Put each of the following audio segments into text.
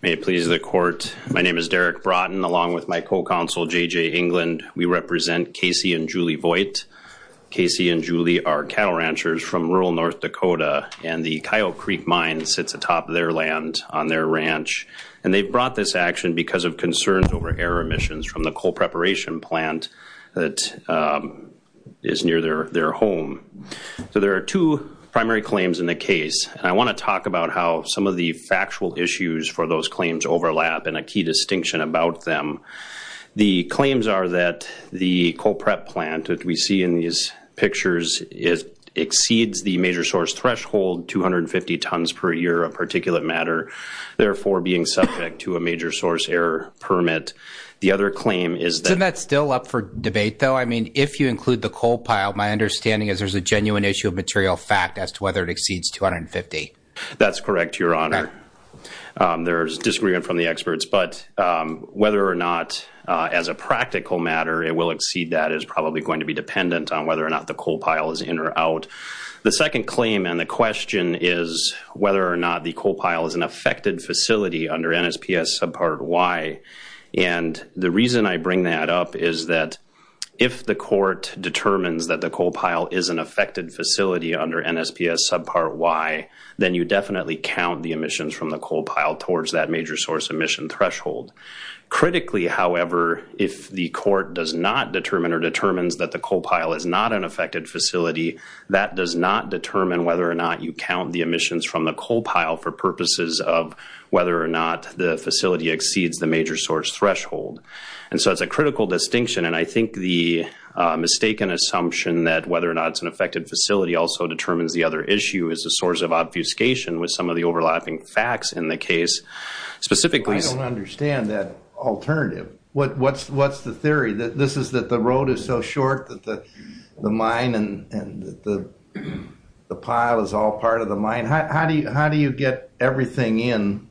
May it please the court. My name is Derek Broughton along with my co-counsel J.J. England. We represent Casey and Julie Voigt. Casey and Julie are cattle ranchers from rural North Dakota and the Coyote Creek Mine sits atop their land on their ranch. And they've brought this action because of concerns over air emissions from the coal preparation plant that is near their their home. So there are two primary claims in the case. I want to talk about how some of the factual issues for those claims overlap and a key distinction about them. The claims are that the coal prep plant that we see in these pictures is exceeds the major source threshold 250 tons per year of particulate matter. Therefore being subject to a major source error permit. The other claim is that... There's a genuine issue of material fact as to whether it exceeds 250. That's correct, your honor. There's disagreement from the experts, but whether or not as a practical matter it will exceed that is probably going to be dependent on whether or not the coal pile is in or out. The second claim and the question is whether or not the coal pile is an affected facility under NSPS subpart Y and if the court determines that the coal pile is an affected facility under NSPS subpart Y then you definitely count the emissions from the coal pile towards that major source emission threshold. Critically, however, if the court does not determine or determines that the coal pile is not an affected facility that does not determine whether or not you count the emissions from the coal pile for purposes of whether or not the facility exceeds the major source threshold. And so it's a critical distinction, and I think the mistaken assumption that whether or not it's an affected facility also determines the other issue is a source of obfuscation with some of the overlapping facts in the case. Specifically... I don't understand that alternative. What's the theory? That this is that the road is so short that the mine and the pile is all part of the mine. How do you get everything in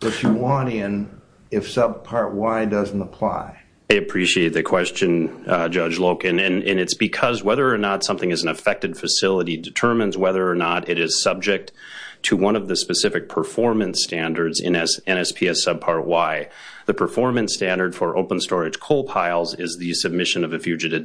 that you want in if subpart Y doesn't apply? I appreciate the question, Judge Loken. And it's because whether or not something is an affected facility determines whether or not it is subject to one of the specific performance standards in NSPS subpart Y. The performance standard for open storage coal piles is the submission of a fugitive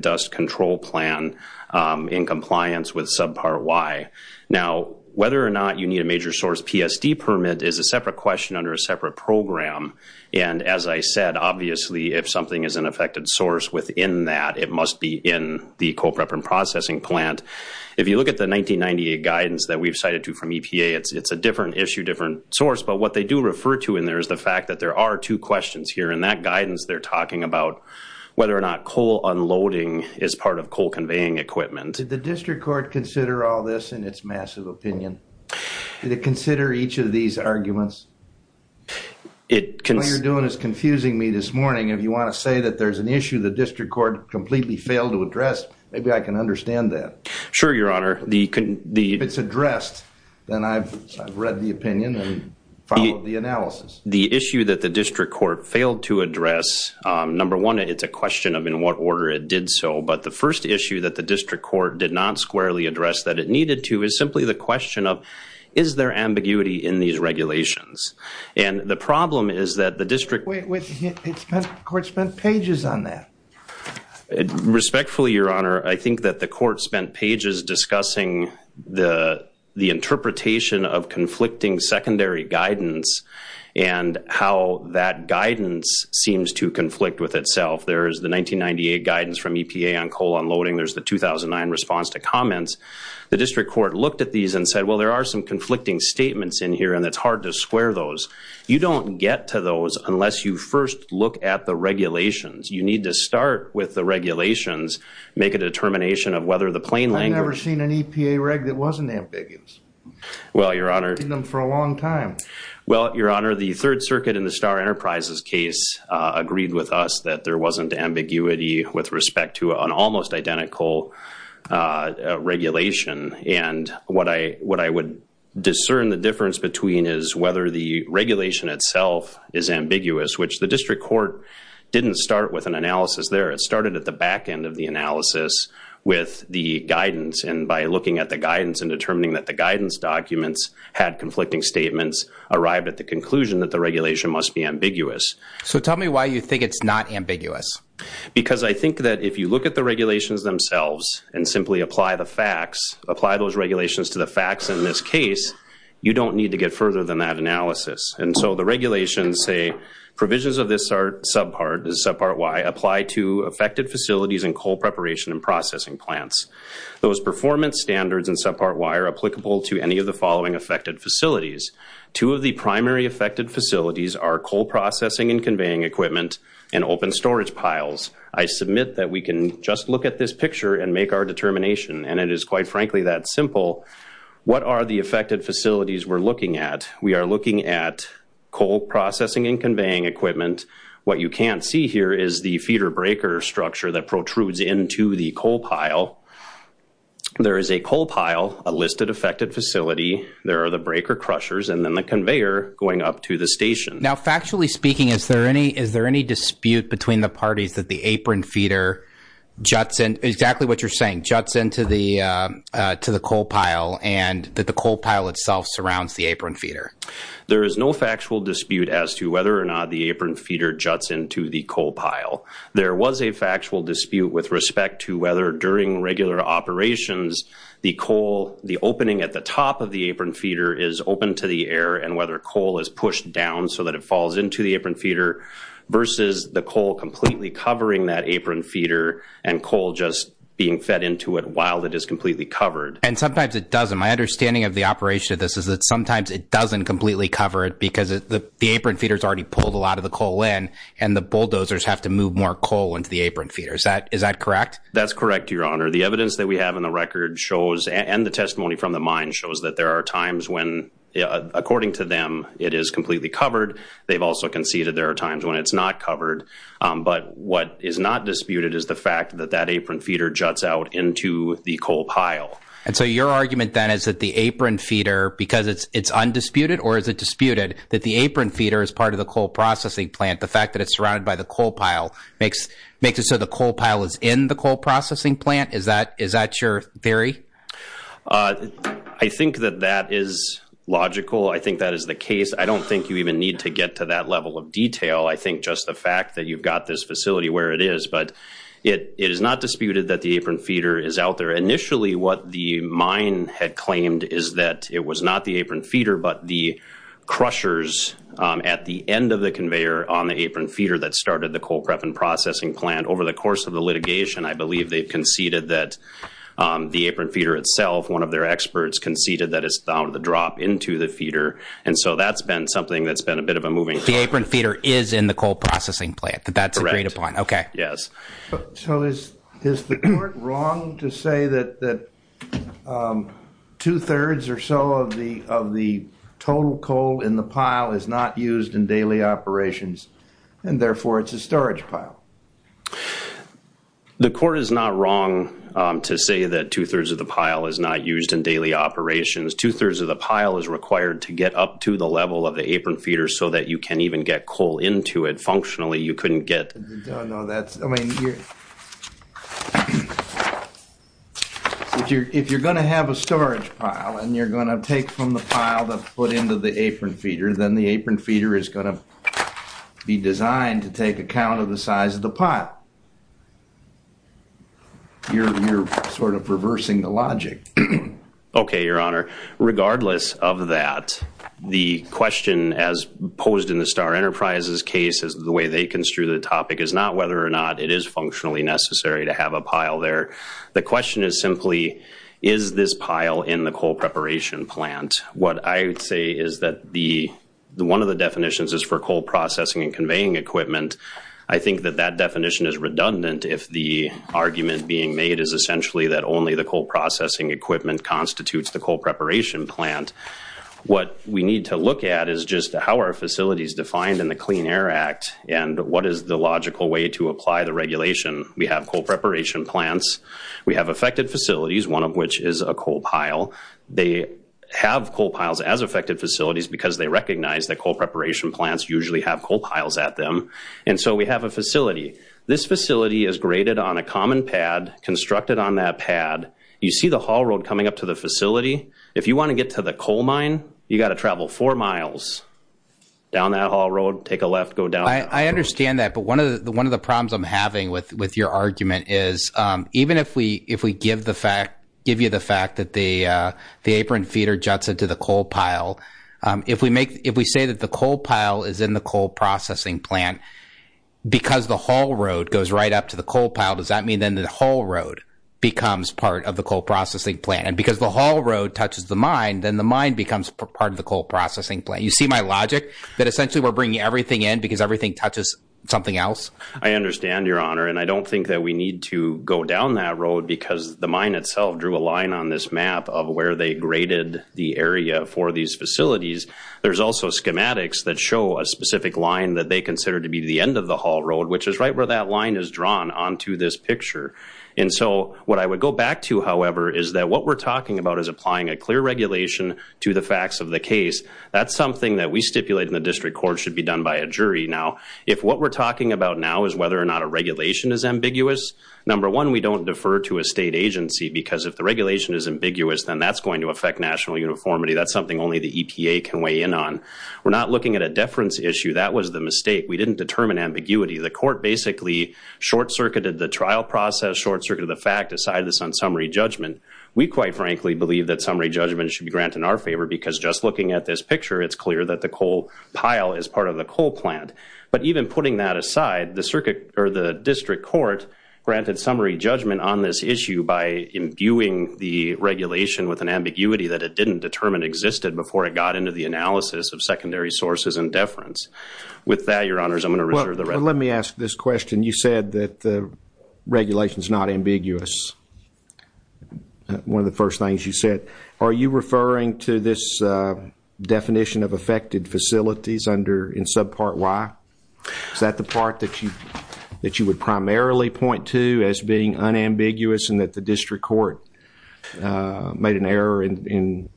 dust control plan in compliance with subpart Y. Now, whether or not you need a major source PSD permit is a separate question under a separate program. And as I said, obviously, if something is an affected source within that, it must be in the Coal Prep and Processing Plant. If you look at the 1998 guidance that we've cited to from EPA, it's a different issue, different source. But what they do refer to in there is the fact that there are two questions here. In that guidance, they're talking about whether or not coal unloading is part of coal conveying equipment. Did the district court consider all this in its massive opinion? Did it consider each of these arguments? What you're doing is confusing me this morning. If you want to say that there's an issue the district court completely failed to address, maybe I can understand that. Sure, Your Honor. If it's addressed, then I've read the opinion and followed the analysis. The issue that the district court failed to address, number one, it's a question of in what order it did so. But the first issue that the district court did not squarely address that it needed to is simply the question of, is there ambiguity in these regulations? And the problem is that the district... Wait, wait. The court spent pages on that. Respectfully, Your Honor, I think that the court spent pages discussing the interpretation of conflicting secondary guidance and how that guidance seems to conflict with itself. There is the 1998 guidance from EPA on coal unloading. There's the 2009 response to comments. The district court looked at these and said, well, there are some conflicting statements in here, and it's hard to square those. You don't get to those unless you first look at the regulations. You need to start with the regulations, make a determination of whether the plain language... I've never seen an EPA reg that wasn't ambiguous. Well, Your Honor... I've seen them for a long time. Well, Your Honor, the Third Circuit in the Starr Enterprises case agreed with us that there wasn't ambiguity with respect to an almost identical regulation. And what I would discern the difference between is whether the regulation itself is ambiguous, which the district court didn't start with an analysis there. It started at the back end of the analysis with the guidance. And by looking at the guidance and determining that the guidance documents had conflicting statements, arrived at the conclusion that the regulation must be ambiguous. So tell me why you think it's not ambiguous. Because I think that if you look at the regulations themselves and simply apply the facts, apply those regulations to the facts in this case, you don't need to get further than that analysis. And so the regulations say provisions of this subpart, this subpart Y, apply to affected facilities and coal preparation and processing plants. Those performance standards in subpart Y are applicable to any of the following affected facilities. Two of the primary affected facilities are coal processing and conveying equipment and open storage piles. I submit that we can just look at this picture and make our determination. And it is quite frankly that simple. What are the affected facilities we're looking at? We are looking at coal processing and conveying equipment. What you can't see here is the feeder breaker structure that protrudes into the coal pile. There is a coal pile, a listed affected facility. There are the breaker crushers and then the conveyor going up to the station. Now factually speaking, is there any dispute between the parties that the apron feeder juts in, exactly what you're saying, juts into the coal pile and that the coal pile itself surrounds the apron feeder? There is no factual dispute as to whether or not the apron feeder juts into the coal pile. There was a factual dispute with respect to whether during regular operations the coal, the opening at the top of the apron feeder is open to the air and whether coal is pushed down so that it falls into the apron feeder versus the coal completely covering that apron feeder and coal just being fed into it while it is completely covered. And sometimes it doesn't. My understanding of the operation of this is that sometimes it doesn't completely cover it because the apron feeder has already pulled a lot of the coal in and the bulldozers have to move more coal into the apron feeder. Is that correct? That's correct, Your Honor. The evidence that we have in the record shows and the testimony from the mine shows that there are times when according to them, it is completely covered. They've also conceded there are times when it's not covered. But what is not disputed is the fact that that apron feeder juts out into the coal pile. And so your argument then is that the apron feeder, because it's undisputed or is it disputed that the apron feeder is part of the coal processing plant, the fact that it's surrounded by the coal pile, makes it so the coal pile is in the coal processing plant? Is that your theory? I think that that is logical. I think that is the case. I don't think you even need to get to that level of detail. I think just the fact that you've got this facility where it is, but it is not disputed that the apron feeder is out there. Initially, what the mine had claimed is that it was not the apron feeder, but the crushers at the end of the conveyor on the apron feeder that started the coal prep and processing plant. Over the course of the litigation, I believe they've conceded that the apron feeder itself, one of their experts, conceded that it's found the drop into the feeder. And so that's been something that's been a bit of a moving point. The apron feeder is in the coal processing plant. That's agreed upon. Okay. Yes. So is the court wrong to say that two-thirds or so of the total coal in the pile is not used in daily operations, and therefore, it's a storage pile? The court is not wrong to say that two-thirds of the pile is not used in daily operations. Two-thirds of the pile is required to get up to the level of the apron feeder so that you can even get coal into it functionally. You couldn't get... If you're going to have a storage pile, and you're going to take from the pile that's put into the apron feeder, then the apron feeder is going to be designed to take account of the size of the pile. You're sort of reversing the logic. Okay, Your Honor. Regardless of that, the question as posed in the Star Enterprises case, as the way they construe the topic, is not whether or not it is functionally necessary to have a pile there. The question is simply, is this pile in the coal preparation plant? What I would say is that the one of the definitions is for coal processing and conveying equipment. I think that that definition is redundant if the facility is a coal preparation plant. What we need to look at is just how our facility is defined in the Clean Air Act, and what is the logical way to apply the regulation. We have coal preparation plants. We have affected facilities, one of which is a coal pile. They have coal piles as affected facilities because they recognize that coal preparation plants usually have coal piles at them. And so we have a facility. This facility is graded on a common pad, constructed on that pad. You see the haul road coming up to the facility. If you want to get to the coal mine, you got to travel four miles down that haul road, take a left, go down. I understand that, but one of the problems I'm having with your argument is, even if we give you the fact that the apron feeder juts into the coal pile, if we say that the coal pile is in the coal processing plant because the haul road goes right up to the coal pile, does that mean then the haul road becomes part of the coal processing plant? And because the haul road touches the mine, then the mine becomes part of the coal processing plant. You see my logic that essentially we're bringing everything in because everything touches something else? I understand, Your Honor, and I don't think that we need to go down that road because the mine itself drew a line on this map of where they graded the area for these facilities. There's also schematics that show a specific line that they consider to be the end of the haul road, which is right where that line is drawn onto this picture. And so what I would go back to, however, is that what we're talking about is applying a clear regulation to the facts of the case. That's something that we stipulate in the district court should be done by a jury. Now, if what we're talking about now is whether or not a regulation is ambiguous, number one, we don't defer to a state agency because if the regulation is ambiguous, then that's going to affect national uniformity. That's something only the EPA can weigh in on. We're not looking at a deference issue. That was the mistake. We didn't determine ambiguity. The court basically short-circuited the trial process, short-circuited the fact, decided this on summary judgment. We quite frankly believe that summary judgment should be granted in our favor because just looking at this picture, it's clear that the coal pile is part of the coal plant. But even putting that aside, the district court granted summary judgment on this issue by imbuing the regulation with an ambiguity that it hadn't determined existed before it got into the analysis of secondary sources and deference. With that, your honors, I'm going to reserve the rest. Let me ask this question. You said that the regulation is not ambiguous. One of the first things you said. Are you referring to this definition of affected facilities under, in subpart Y? Is that the part that you that you would primarily point to as being unambiguous and that the district court made an error in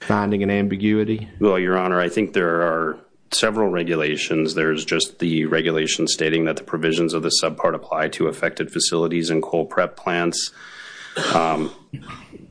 finding an ambiguity? Well, your honor, I think there are several regulations. There's just the regulation stating that the provisions of the subpart apply to affected facilities and coal prep plants.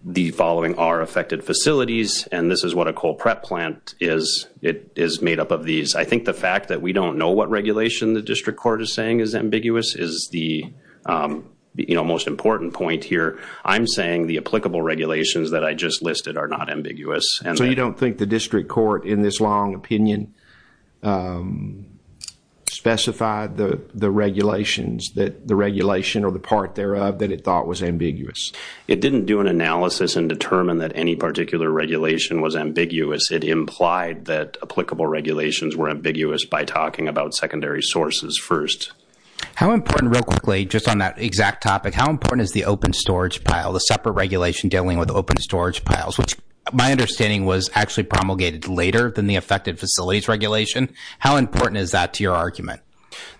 The following are affected facilities, and this is what a coal prep plant is. It is made up of these. I think the fact that we don't know what regulation the district court is saying is ambiguous is the most important point here. I'm saying the applicable regulations that I just listed are not ambiguous. So you don't think the district court in this long opinion specified the regulations that the regulation or the part thereof that it thought was ambiguous? It didn't do an analysis and determine that any particular regulation was ambiguous. It implied that applicable regulations were ambiguous by talking about secondary sources first. How important, real quickly, just on that exact topic, how important is the open storage pile, the separate regulation dealing with open storage piles? Which my understanding was actually promulgated later than the affected facilities regulation. How important is that to your argument?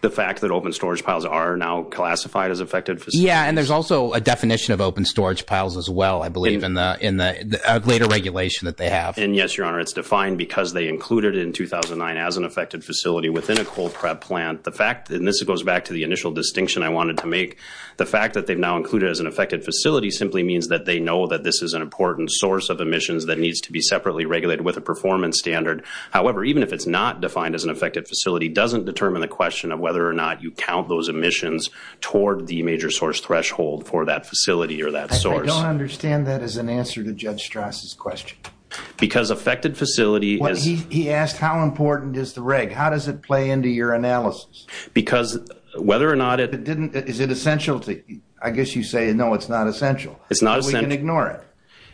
The fact that open storage piles are now classified as affected? Yeah, and there's also a definition of open storage piles as well, I believe, in the in the later regulation that they have. And yes, your honor, it's defined because they included it in 2009 as an affected facility within a cold prep plant. The fact, and this goes back to the initial distinction I wanted to make, the fact that they've now included as an affected facility simply means that they know that this is an important source of emissions that needs to be separately regulated with a performance standard. However, even if it's not defined as an affected facility doesn't determine the question of whether or not you count those emissions toward the major source threshold for that facility or that source. I don't understand that as an answer to Judge Strass' question. Because affected facility is... He asked how important is the reg? How does it play into your analysis? Because whether or not it... Is it essential to you? I guess you say no, it's not essential. It's not essential. We can ignore it.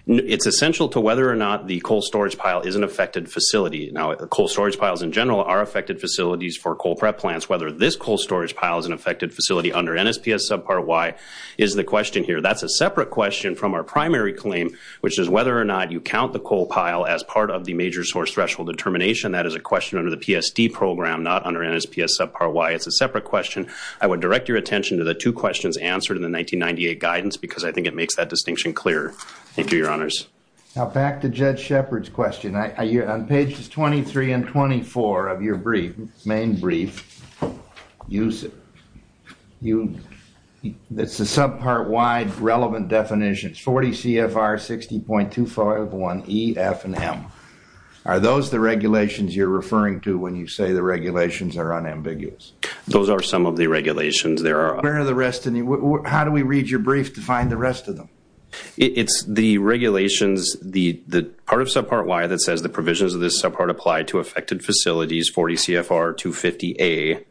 It's essential to whether or not the coal storage pile is an affected facility. Now, the coal storage piles in general are affected facilities for coal prep plants. Whether this coal storage pile is an affected facility under NSPS subpart Y is the question here. That's a separate question from our primary claim which is whether or not you count the coal pile as part of the major source threshold determination. That is a question under the PSD program, not under NSPS subpart Y. It's a separate question. I would direct your attention to the two questions answered in the 1998 guidance because I think it makes that distinction clearer. Thank you, Your Honors. Now back to Judge Shepard's question. On pages 23 and 24 of your brief, main brief, you... You... subpart Y relevant definitions, 40 CFR 60.251 E, F, and M. Are those the regulations you're referring to when you say the regulations are unambiguous? Those are some of the regulations. There are... Where are the rest of them? How do we read your brief to find the rest of them? It's the regulations, the part of subpart Y that says the provisions of this subpart apply to affected facilities, 40 CFR 250A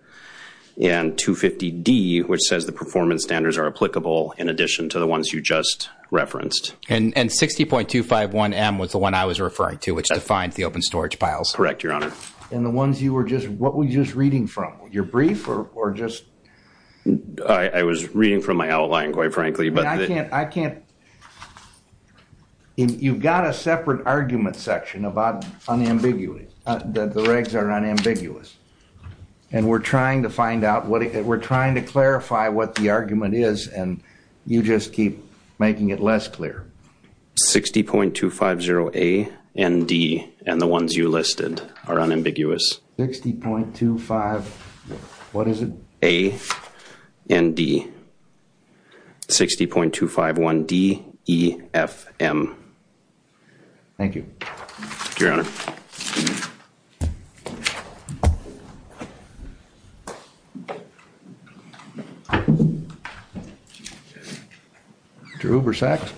and 250D, which says the performance standards are applicable in addition to the ones you just referenced. And 60.251M was the one I was referring to, which defines the open storage piles. Correct, Your Honor. And the ones you were just... What were you just reading from? Your brief or just... I was reading from my outline, quite frankly, but... I can't... I can't... You've got a separate argument section about unambiguity, that the regs are unambiguous. And we're trying to find out what... We're trying to clarify what the argument is, and you just keep making it less clear. 60.250A and D, and the ones you listed, are unambiguous. 60.25... What is it? A and D. 60.251D, E, F, M. Thank you. Your Honor. Thank you, Your Honor. Mr. Ubersack.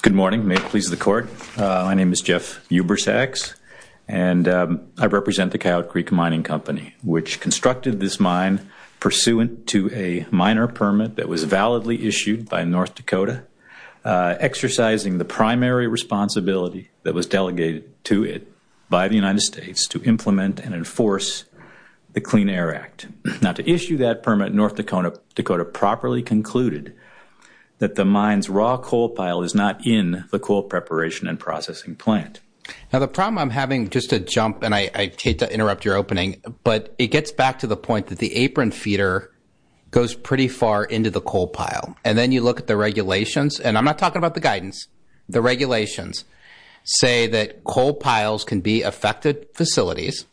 Good morning. May it please the Court. My name is Jeff Ubersacks, and I represent the Coyote Creek Mining Company, which constructed this mine pursuant to a minor permit that was validly issued by North Dakota, exercising the primary responsibility that was delegated to it by the United States to implement and enforce the Clean Air Act. Now, to issue that permit, North Dakota properly concluded that the mine's raw coal pile is not in the coal preparation and processing plant. Now, the problem I'm having, just to jump, and I hate to interrupt your opening, but it gets back to the point that the apron feeder goes pretty far into the coal pile. And then you look at the regulations, and I'm not talking about the guidance. The regulations say that coal piles can be affected facilities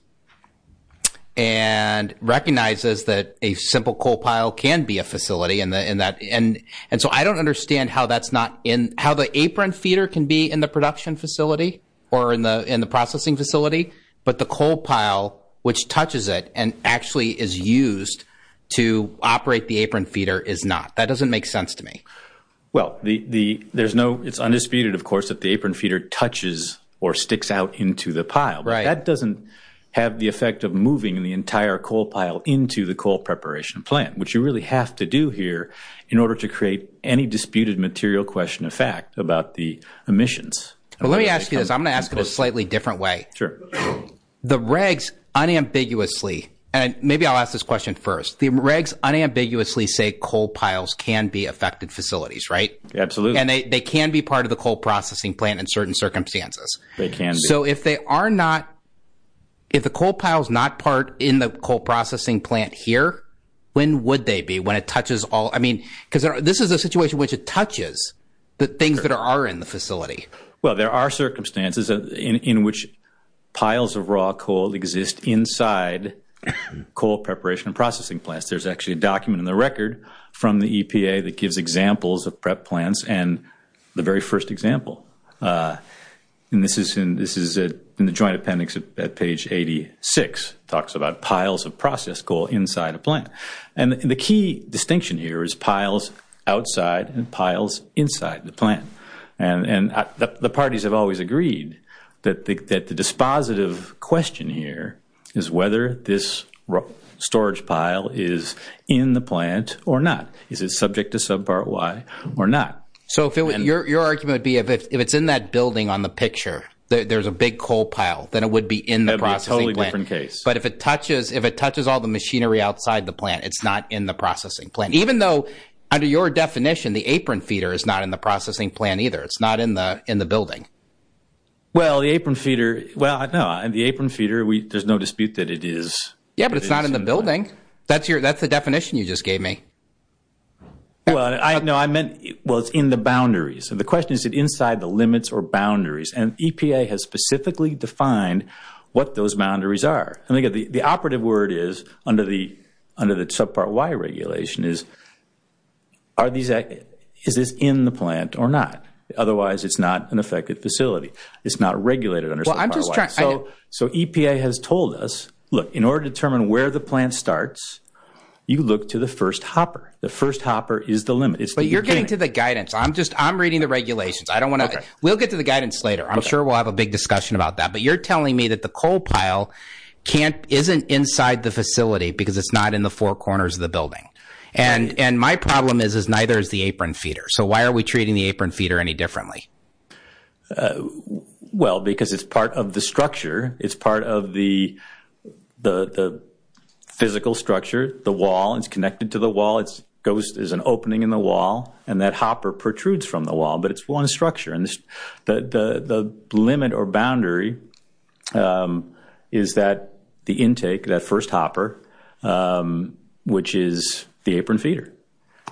and recognizes that a simple coal pile can be a facility, and so I don't understand how the apron feeder can be in the production facility or in the processing facility, but the coal pile, which touches it and actually is used to operate the apron feeder, is not. That doesn't make sense to me. Well, it's undisputed, of course, that the apron feeder touches or sticks out into the pile, but that doesn't have the effect of moving the entire coal pile into the coal preparation plant, which you really have to do here in order to create any disputed material question of fact about the emissions. Well, let me ask you this. I'm going to ask it a slightly different way. Sure. The regs unambiguously, and maybe I'll ask this question first, the regs unambiguously say coal piles can be affected facilities, right? Absolutely. And they can be part of the coal processing plant in certain circumstances. They can be. So if they are not, if the coal pile is not part in the coal processing plant here, when would they be? When it touches all, I mean, because this is a situation in which it touches the things that are in the facility. Well, there are circumstances in which piles of raw coal exist inside coal preparation and processing plants. There's actually a document in the record from the EPA that gives examples of prep plants and the very first example. And this is in the joint appendix at page 86. It talks about piles of processed coal inside a plant. And the key distinction here is piles outside and piles inside the plant. And the parties have always agreed that the dispositive question here is whether this storage pile is in the plant or not. Is it subject to subpart Y or not? So your argument would be if it's in that building on the picture, there's a big coal pile, then it would be in the processing plant. That would be a totally different case. But if it touches all the machinery outside the plant, it's not in the processing plant. Even though, under your definition, the apron feeder is not in the processing plant either. It's not in the building. Well, the apron feeder, well, no, the apron feeder, there's no dispute that it is. Yeah, but it's not in the building. That's the definition you just gave me. Well, no, I meant, well, it's in the boundaries. And the question is, is it inside the limits or boundaries? And EPA has specifically defined what those boundaries are. And, again, the operative word is, under the subpart Y regulation, is, is this in the plant or not? Otherwise, it's not an effective facility. It's not regulated under subpart Y. So EPA has told us, look, in order to determine where the plant starts, you look to the first hopper. The first hopper is the limit. But you're getting to the guidance. I'm just, I'm reading the regulations. I don't want to, we'll get to the guidance later. I'm sure we'll have a big discussion about that. But you're telling me that the coal pile can't, isn't inside the facility because it's not in the four corners of the building. And my problem is, is neither is the apron feeder. So why are we treating the apron feeder any differently? Well, because it's part of the structure. It's part of the physical structure, the wall. It's connected to the wall. It goes, there's an opening in the wall. And that hopper protrudes from the wall. But it's one structure. And the limit or boundary is that the intake, that first hopper, which is the apron feeder.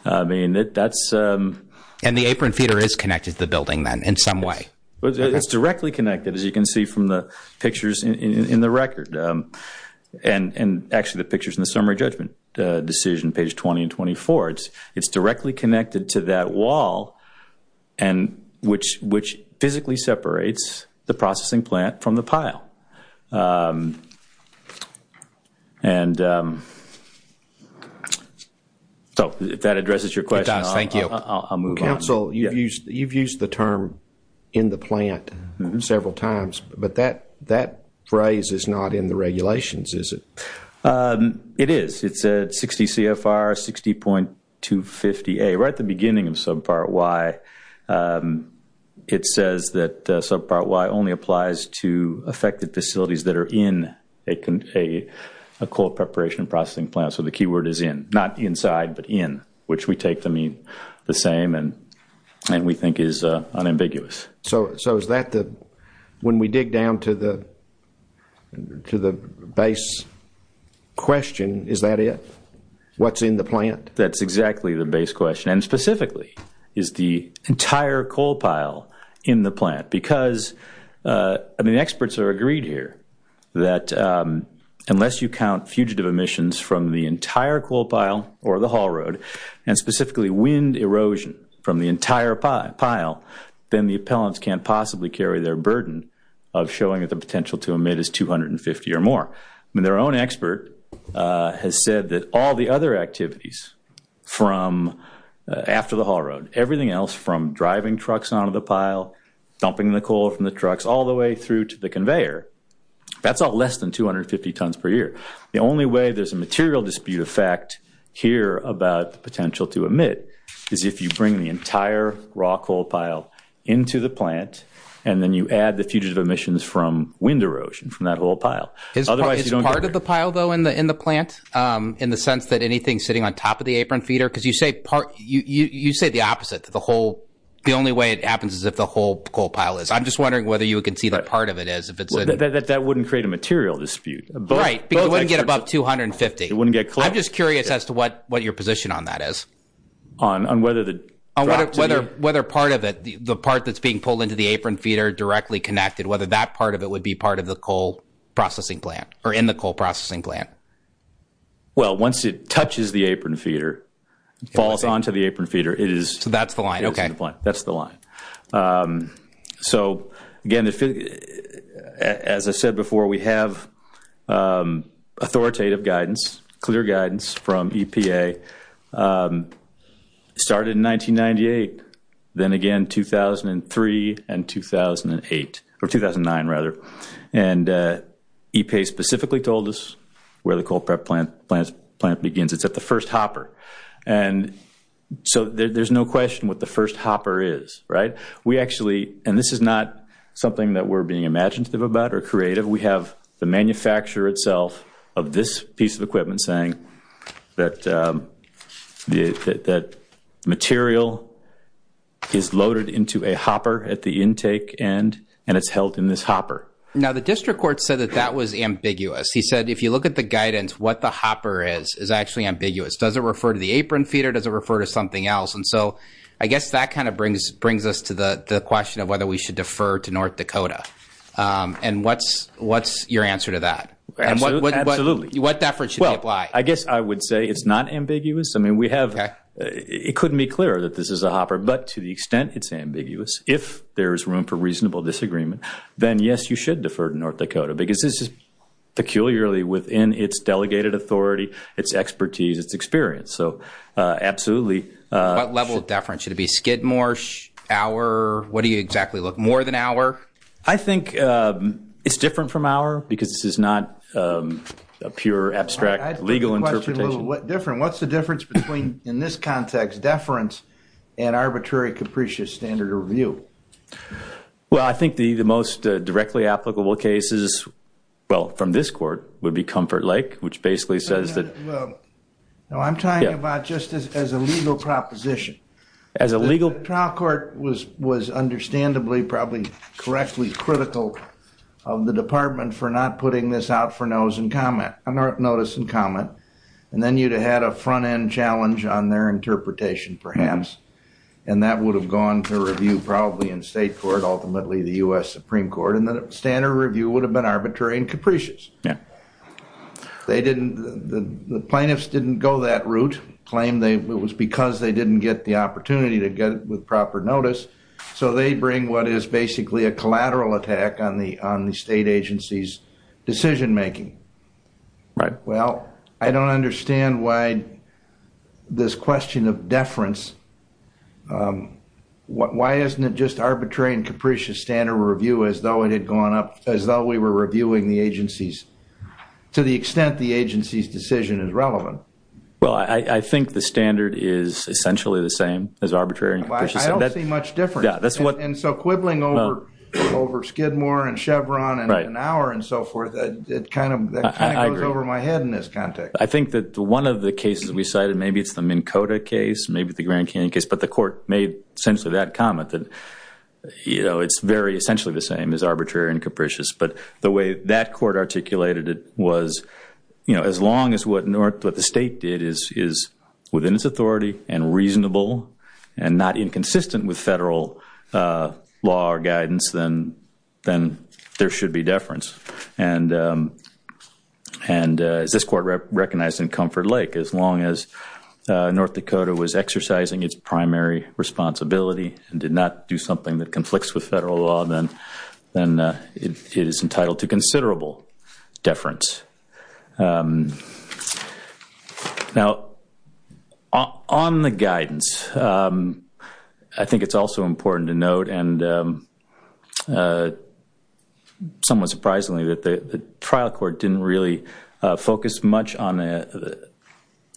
I mean, that's. And the apron feeder is connected to the building then in some way. It's directly connected, as you can see from the pictures in the record. And actually the pictures in the summary judgment decision, page 20 and 24. It's directly connected to that wall, which physically separates the processing plant from the pile. And so, if that addresses your question. Thank you. I'll move on. Counsel, you've used the term in the plant several times. But that phrase is not in the regulations, is it? It is. It's 60 CFR 60.250A. Right at the beginning of subpart Y, it says that subpart Y only applies to affected facilities that are in a coal preparation processing plant. So the key word is in. Not inside, but in, which we take to mean the same and we think is unambiguous. So is that the, when we dig down to the base question, is that it? What's in the plant? That's exactly the base question. And specifically, is the entire coal pile in the plant? I mean, experts are agreed here that unless you count fugitive emissions from the entire coal pile or the haul road, and specifically wind erosion from the entire pile, then the appellants can't possibly carry their burden of showing that the potential to emit is 250 or more. I mean, their own expert has said that all the other activities from after the haul road, everything else from driving trucks out of the pile, dumping the coal from the trucks all the way through to the conveyor, that's all less than 250 tons per year. The only way there's a material dispute effect here about the potential to emit is if you bring the entire raw coal pile into the plant, and then you add the fugitive emissions from wind erosion from that whole pile. Is part of the pile, though, in the plant, in the sense that anything sitting on top of the apron feeder? Because you say the opposite, that the only way it happens is if the whole coal pile is. I'm just wondering whether you can see what part of it is. That wouldn't create a material dispute. Right, because it wouldn't get above 250. It wouldn't get close. I'm just curious as to what your position on that is. On whether the drop to the – On whether part of it, the part that's being pulled into the apron feeder directly connected, whether that part of it would be part of the coal processing plant or in the coal processing plant. Well, once it touches the apron feeder, falls onto the apron feeder, it is. So that's the line, okay. That's the line. So, again, as I said before, we have authoritative guidance, clear guidance from EPA. Started in 1998, then again 2003 and 2008 – or 2009, rather. And EPA specifically told us where the coal prep plant begins. It's at the first hopper. And so there's no question what the first hopper is, right? We actually – and this is not something that we're being imaginative about or creative. We have the manufacturer itself of this piece of equipment saying that material is loaded into a hopper at the intake end, and it's held in this hopper. Now, the district court said that that was ambiguous. He said if you look at the guidance, what the hopper is is actually ambiguous. Does it refer to the apron feeder? Does it refer to something else? And so I guess that kind of brings us to the question of whether we should defer to North Dakota. And what's your answer to that? Absolutely. What deference should we apply? Well, I guess I would say it's not ambiguous. I mean, we have – it couldn't be clearer that this is a hopper. But to the extent it's ambiguous, if there is room for reasonable disagreement, then, yes, you should defer to North Dakota because this is peculiarly within its delegated authority, its expertise, its experience. So absolutely. What level of deference? Should it be skid more, hour? What do you exactly look? More than hour? I think it's different from hour because this is not a pure abstract legal interpretation. What's the difference between, in this context, deference and arbitrary capricious standard of review? Well, I think the most directly applicable case is, well, from this court, would be Comfort Lake, which basically says that – No, I'm talking about just as a legal proposition. As a legal – The trial court was understandably probably correctly critical of the department for not putting this out for notice and comment. And then you'd have had a front-end challenge on their interpretation, perhaps. And that would have gone to review probably in state court, ultimately the U.S. Supreme Court. And the standard review would have been arbitrary and capricious. Yeah. They didn't – the plaintiffs didn't go that route, claimed it was because they didn't get the opportunity to get it with proper notice. So they bring what is basically a collateral attack on the state agency's decision-making. Right. Well, I don't understand why this question of deference – why isn't it just arbitrary and capricious standard of review as though it had gone up, as though we were reviewing the agency's – to the extent the agency's decision is relevant? Well, I think the standard is essentially the same as arbitrary and capricious. I don't see much difference. Yeah, that's what – I think that one of the cases we cited, maybe it's the Minn Kota case, maybe the Grand Canyon case, but the court made essentially that comment that, you know, it's very essentially the same as arbitrary and capricious. But the way that court articulated it was, you know, as long as what the state did is within its authority and reasonable and not inconsistent with federal law or guidance, then there should be deference. And as this court recognized in Comfort Lake, as long as North Dakota was exercising its primary responsibility and did not do something that conflicts with federal law, then it is entitled to considerable deference. Now, on the guidance, I think it's also important to note, and somewhat surprisingly, that the trial court didn't really focus much on the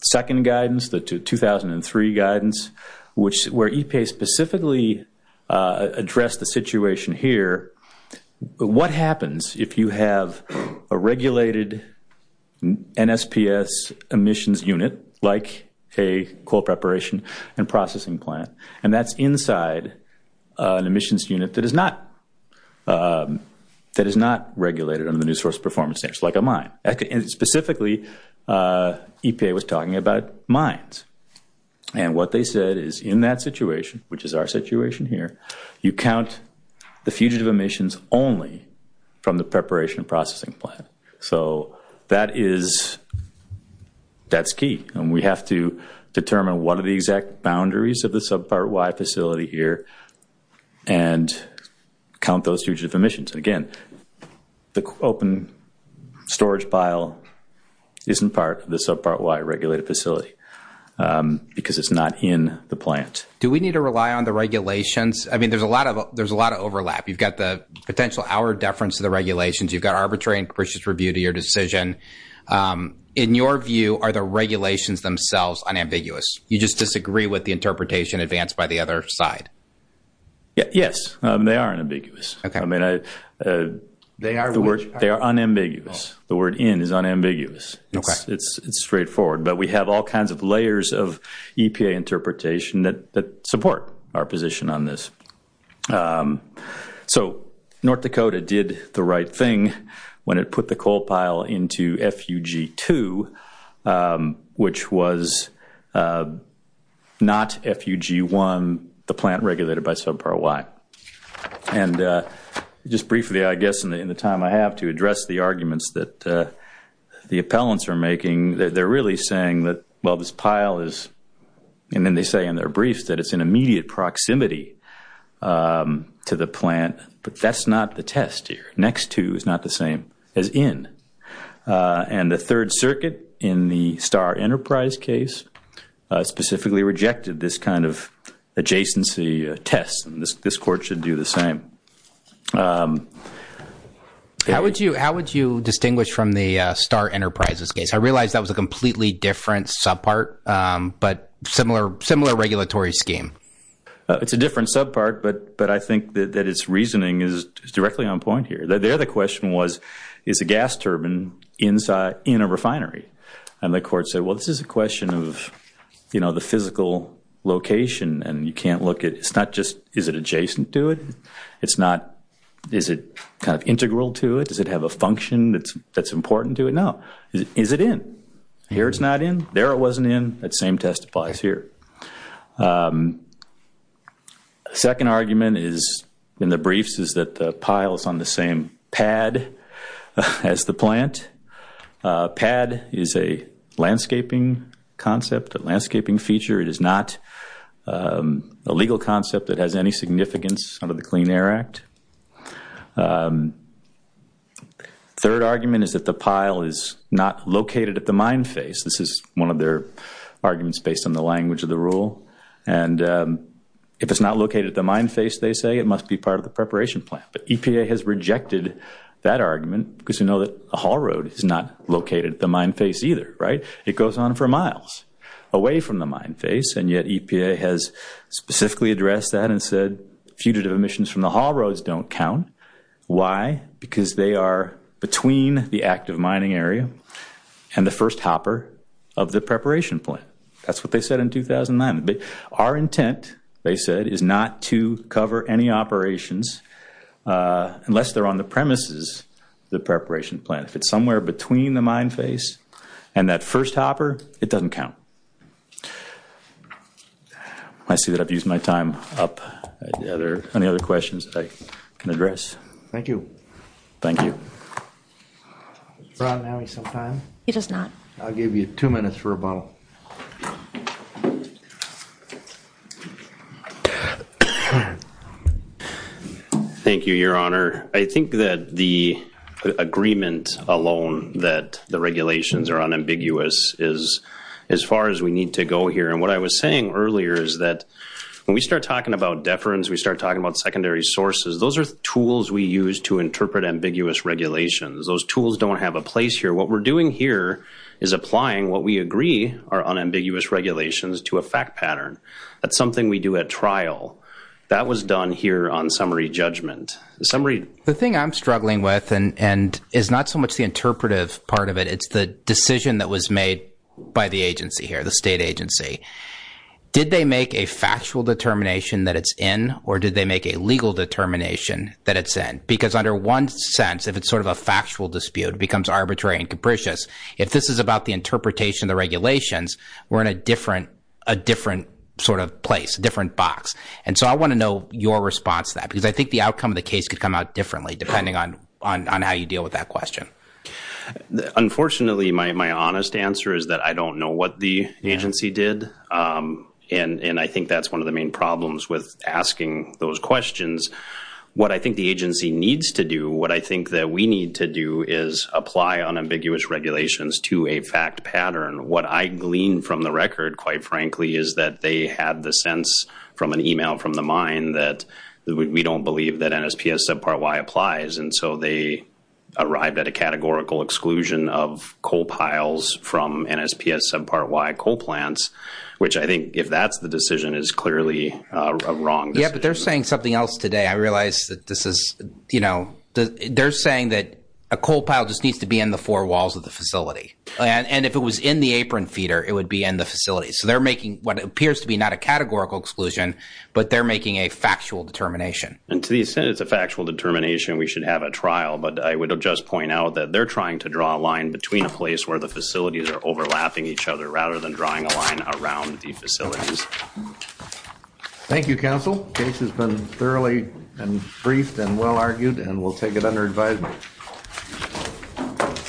second guidance, the 2003 guidance, where EPA specifically addressed the situation here. What happens if you have a regulated NSPS emissions unit, like a coal preparation and processing plant, and that's inside an emissions unit that is not regulated under the New Source Performance Standards, like a mine? Specifically, EPA was talking about mines. And what they said is, in that situation, which is our situation here, you count the fugitive emissions only from the preparation and processing plant. So that's key. And we have to determine what are the exact boundaries of the Subpart Y facility here and count those fugitive emissions. Again, the open storage pile isn't part of the Subpart Y regulated facility because it's not in the plant. Do we need to rely on the regulations? I mean, there's a lot of overlap. You've got the potential hour deference to the regulations. You've got arbitrary and gracious review to your decision. In your view, are the regulations themselves unambiguous? You just disagree with the interpretation advanced by the other side? Yes, they are unambiguous. I mean, they are unambiguous. The word in is unambiguous. It's straightforward. But we have all kinds of layers of EPA interpretation that support our position on this. So North Dakota did the right thing when it put the coal pile into FUG-2, which was not FUG-1, the plant regulated by Subpart Y. And just briefly, I guess, in the time I have to address the arguments that the appellants are making, they're really saying that, well, this pile is, and then they say in their briefs, that it's in immediate proximity to the plant. But that's not the test here. Next to is not the same as in. And the Third Circuit in the Starr Enterprise case specifically rejected this kind of adjacency test. And this Court should do the same. How would you distinguish from the Starr Enterprise's case? I realize that was a completely different subpart, but similar regulatory scheme. It's a different subpart, but I think that its reasoning is directly on point here. There the question was, is a gas turbine in a refinery? And the Court said, well, this is a question of the physical location, and you can't look at, it's not just, is it adjacent to it? It's not, is it kind of integral to it? Does it have a function that's important to it? No. Is it in? Here it's not in. There it wasn't in. That same testifies here. Second argument is, in the briefs, is that the pile is on the same pad as the plant. Pad is a landscaping concept, a landscaping feature. It is not a legal concept that has any significance under the Clean Air Act. Third argument is that the pile is not located at the mine face. This is one of their arguments based on the language of the rule. And if it's not located at the mine face, they say, it must be part of the preparation plan. But EPA has rejected that argument because they know that a haul road is not located at the mine face either, right? It goes on for miles away from the mine face, and yet EPA has specifically addressed that and said fugitive emissions from the haul roads don't count. Why? Because they are between the active mining area and the first hopper of the preparation plan. That's what they said in 2009. Our intent, they said, is not to cover any operations unless they're on the premises of the preparation plan. If it's somewhere between the mine face and that first hopper, it doesn't count. I see that I've used my time up. Are there any other questions that I can address? Thank you. Thank you. Does Ron have any sometime? He does not. I'll give you two minutes for a bottle. Thank you, Your Honor. I think that the agreement alone that the regulations are unambiguous is as far as we need to go here, and what I was saying earlier is that when we start talking about deference, we start talking about secondary sources, those are tools we use to interpret ambiguous regulations. Those tools don't have a place here. What we're doing here is applying what we agree are unambiguous regulations to a fact pattern. That's something we do at trial. That was done here on summary judgment. The thing I'm struggling with and is not so much the interpretive part of it, it's the decision that was made by the agency here, the state agency. Did they make a factual determination that it's in, or did they make a legal determination that it's in? Because under one sense, if it's sort of a factual dispute, it becomes arbitrary and capricious. If this is about the interpretation of the regulations, we're in a different sort of place, a different box. And so I want to know your response to that, because I think the outcome of the case could come out differently depending on how you deal with that question. Unfortunately, my honest answer is that I don't know what the agency did, and I think that's one of the main problems with asking those questions. What I think the agency needs to do, what I think that we need to do, is apply unambiguous regulations to a fact pattern. What I glean from the record, quite frankly, is that they had the sense from an email from the mine that we don't believe that NSPS subpart Y applies, and so they arrived at a categorical exclusion of coal piles from NSPS subpart Y coal plants, which I think, if that's the decision, is clearly a wrong decision. Yeah, but they're saying something else today. I realize that this is, you know, they're saying that a coal pile just needs to be in the four walls of the facility. And if it was in the apron feeder, it would be in the facility. So they're making what appears to be not a categorical exclusion, but they're making a factual determination. And to the extent it's a factual determination, we should have a trial, but I would just point out that they're trying to draw a line between a place where the facilities are overlapping each other rather than drawing a line around the facilities. Thank you, counsel. The case has been thoroughly and briefed and well argued, and we'll take it under advisement.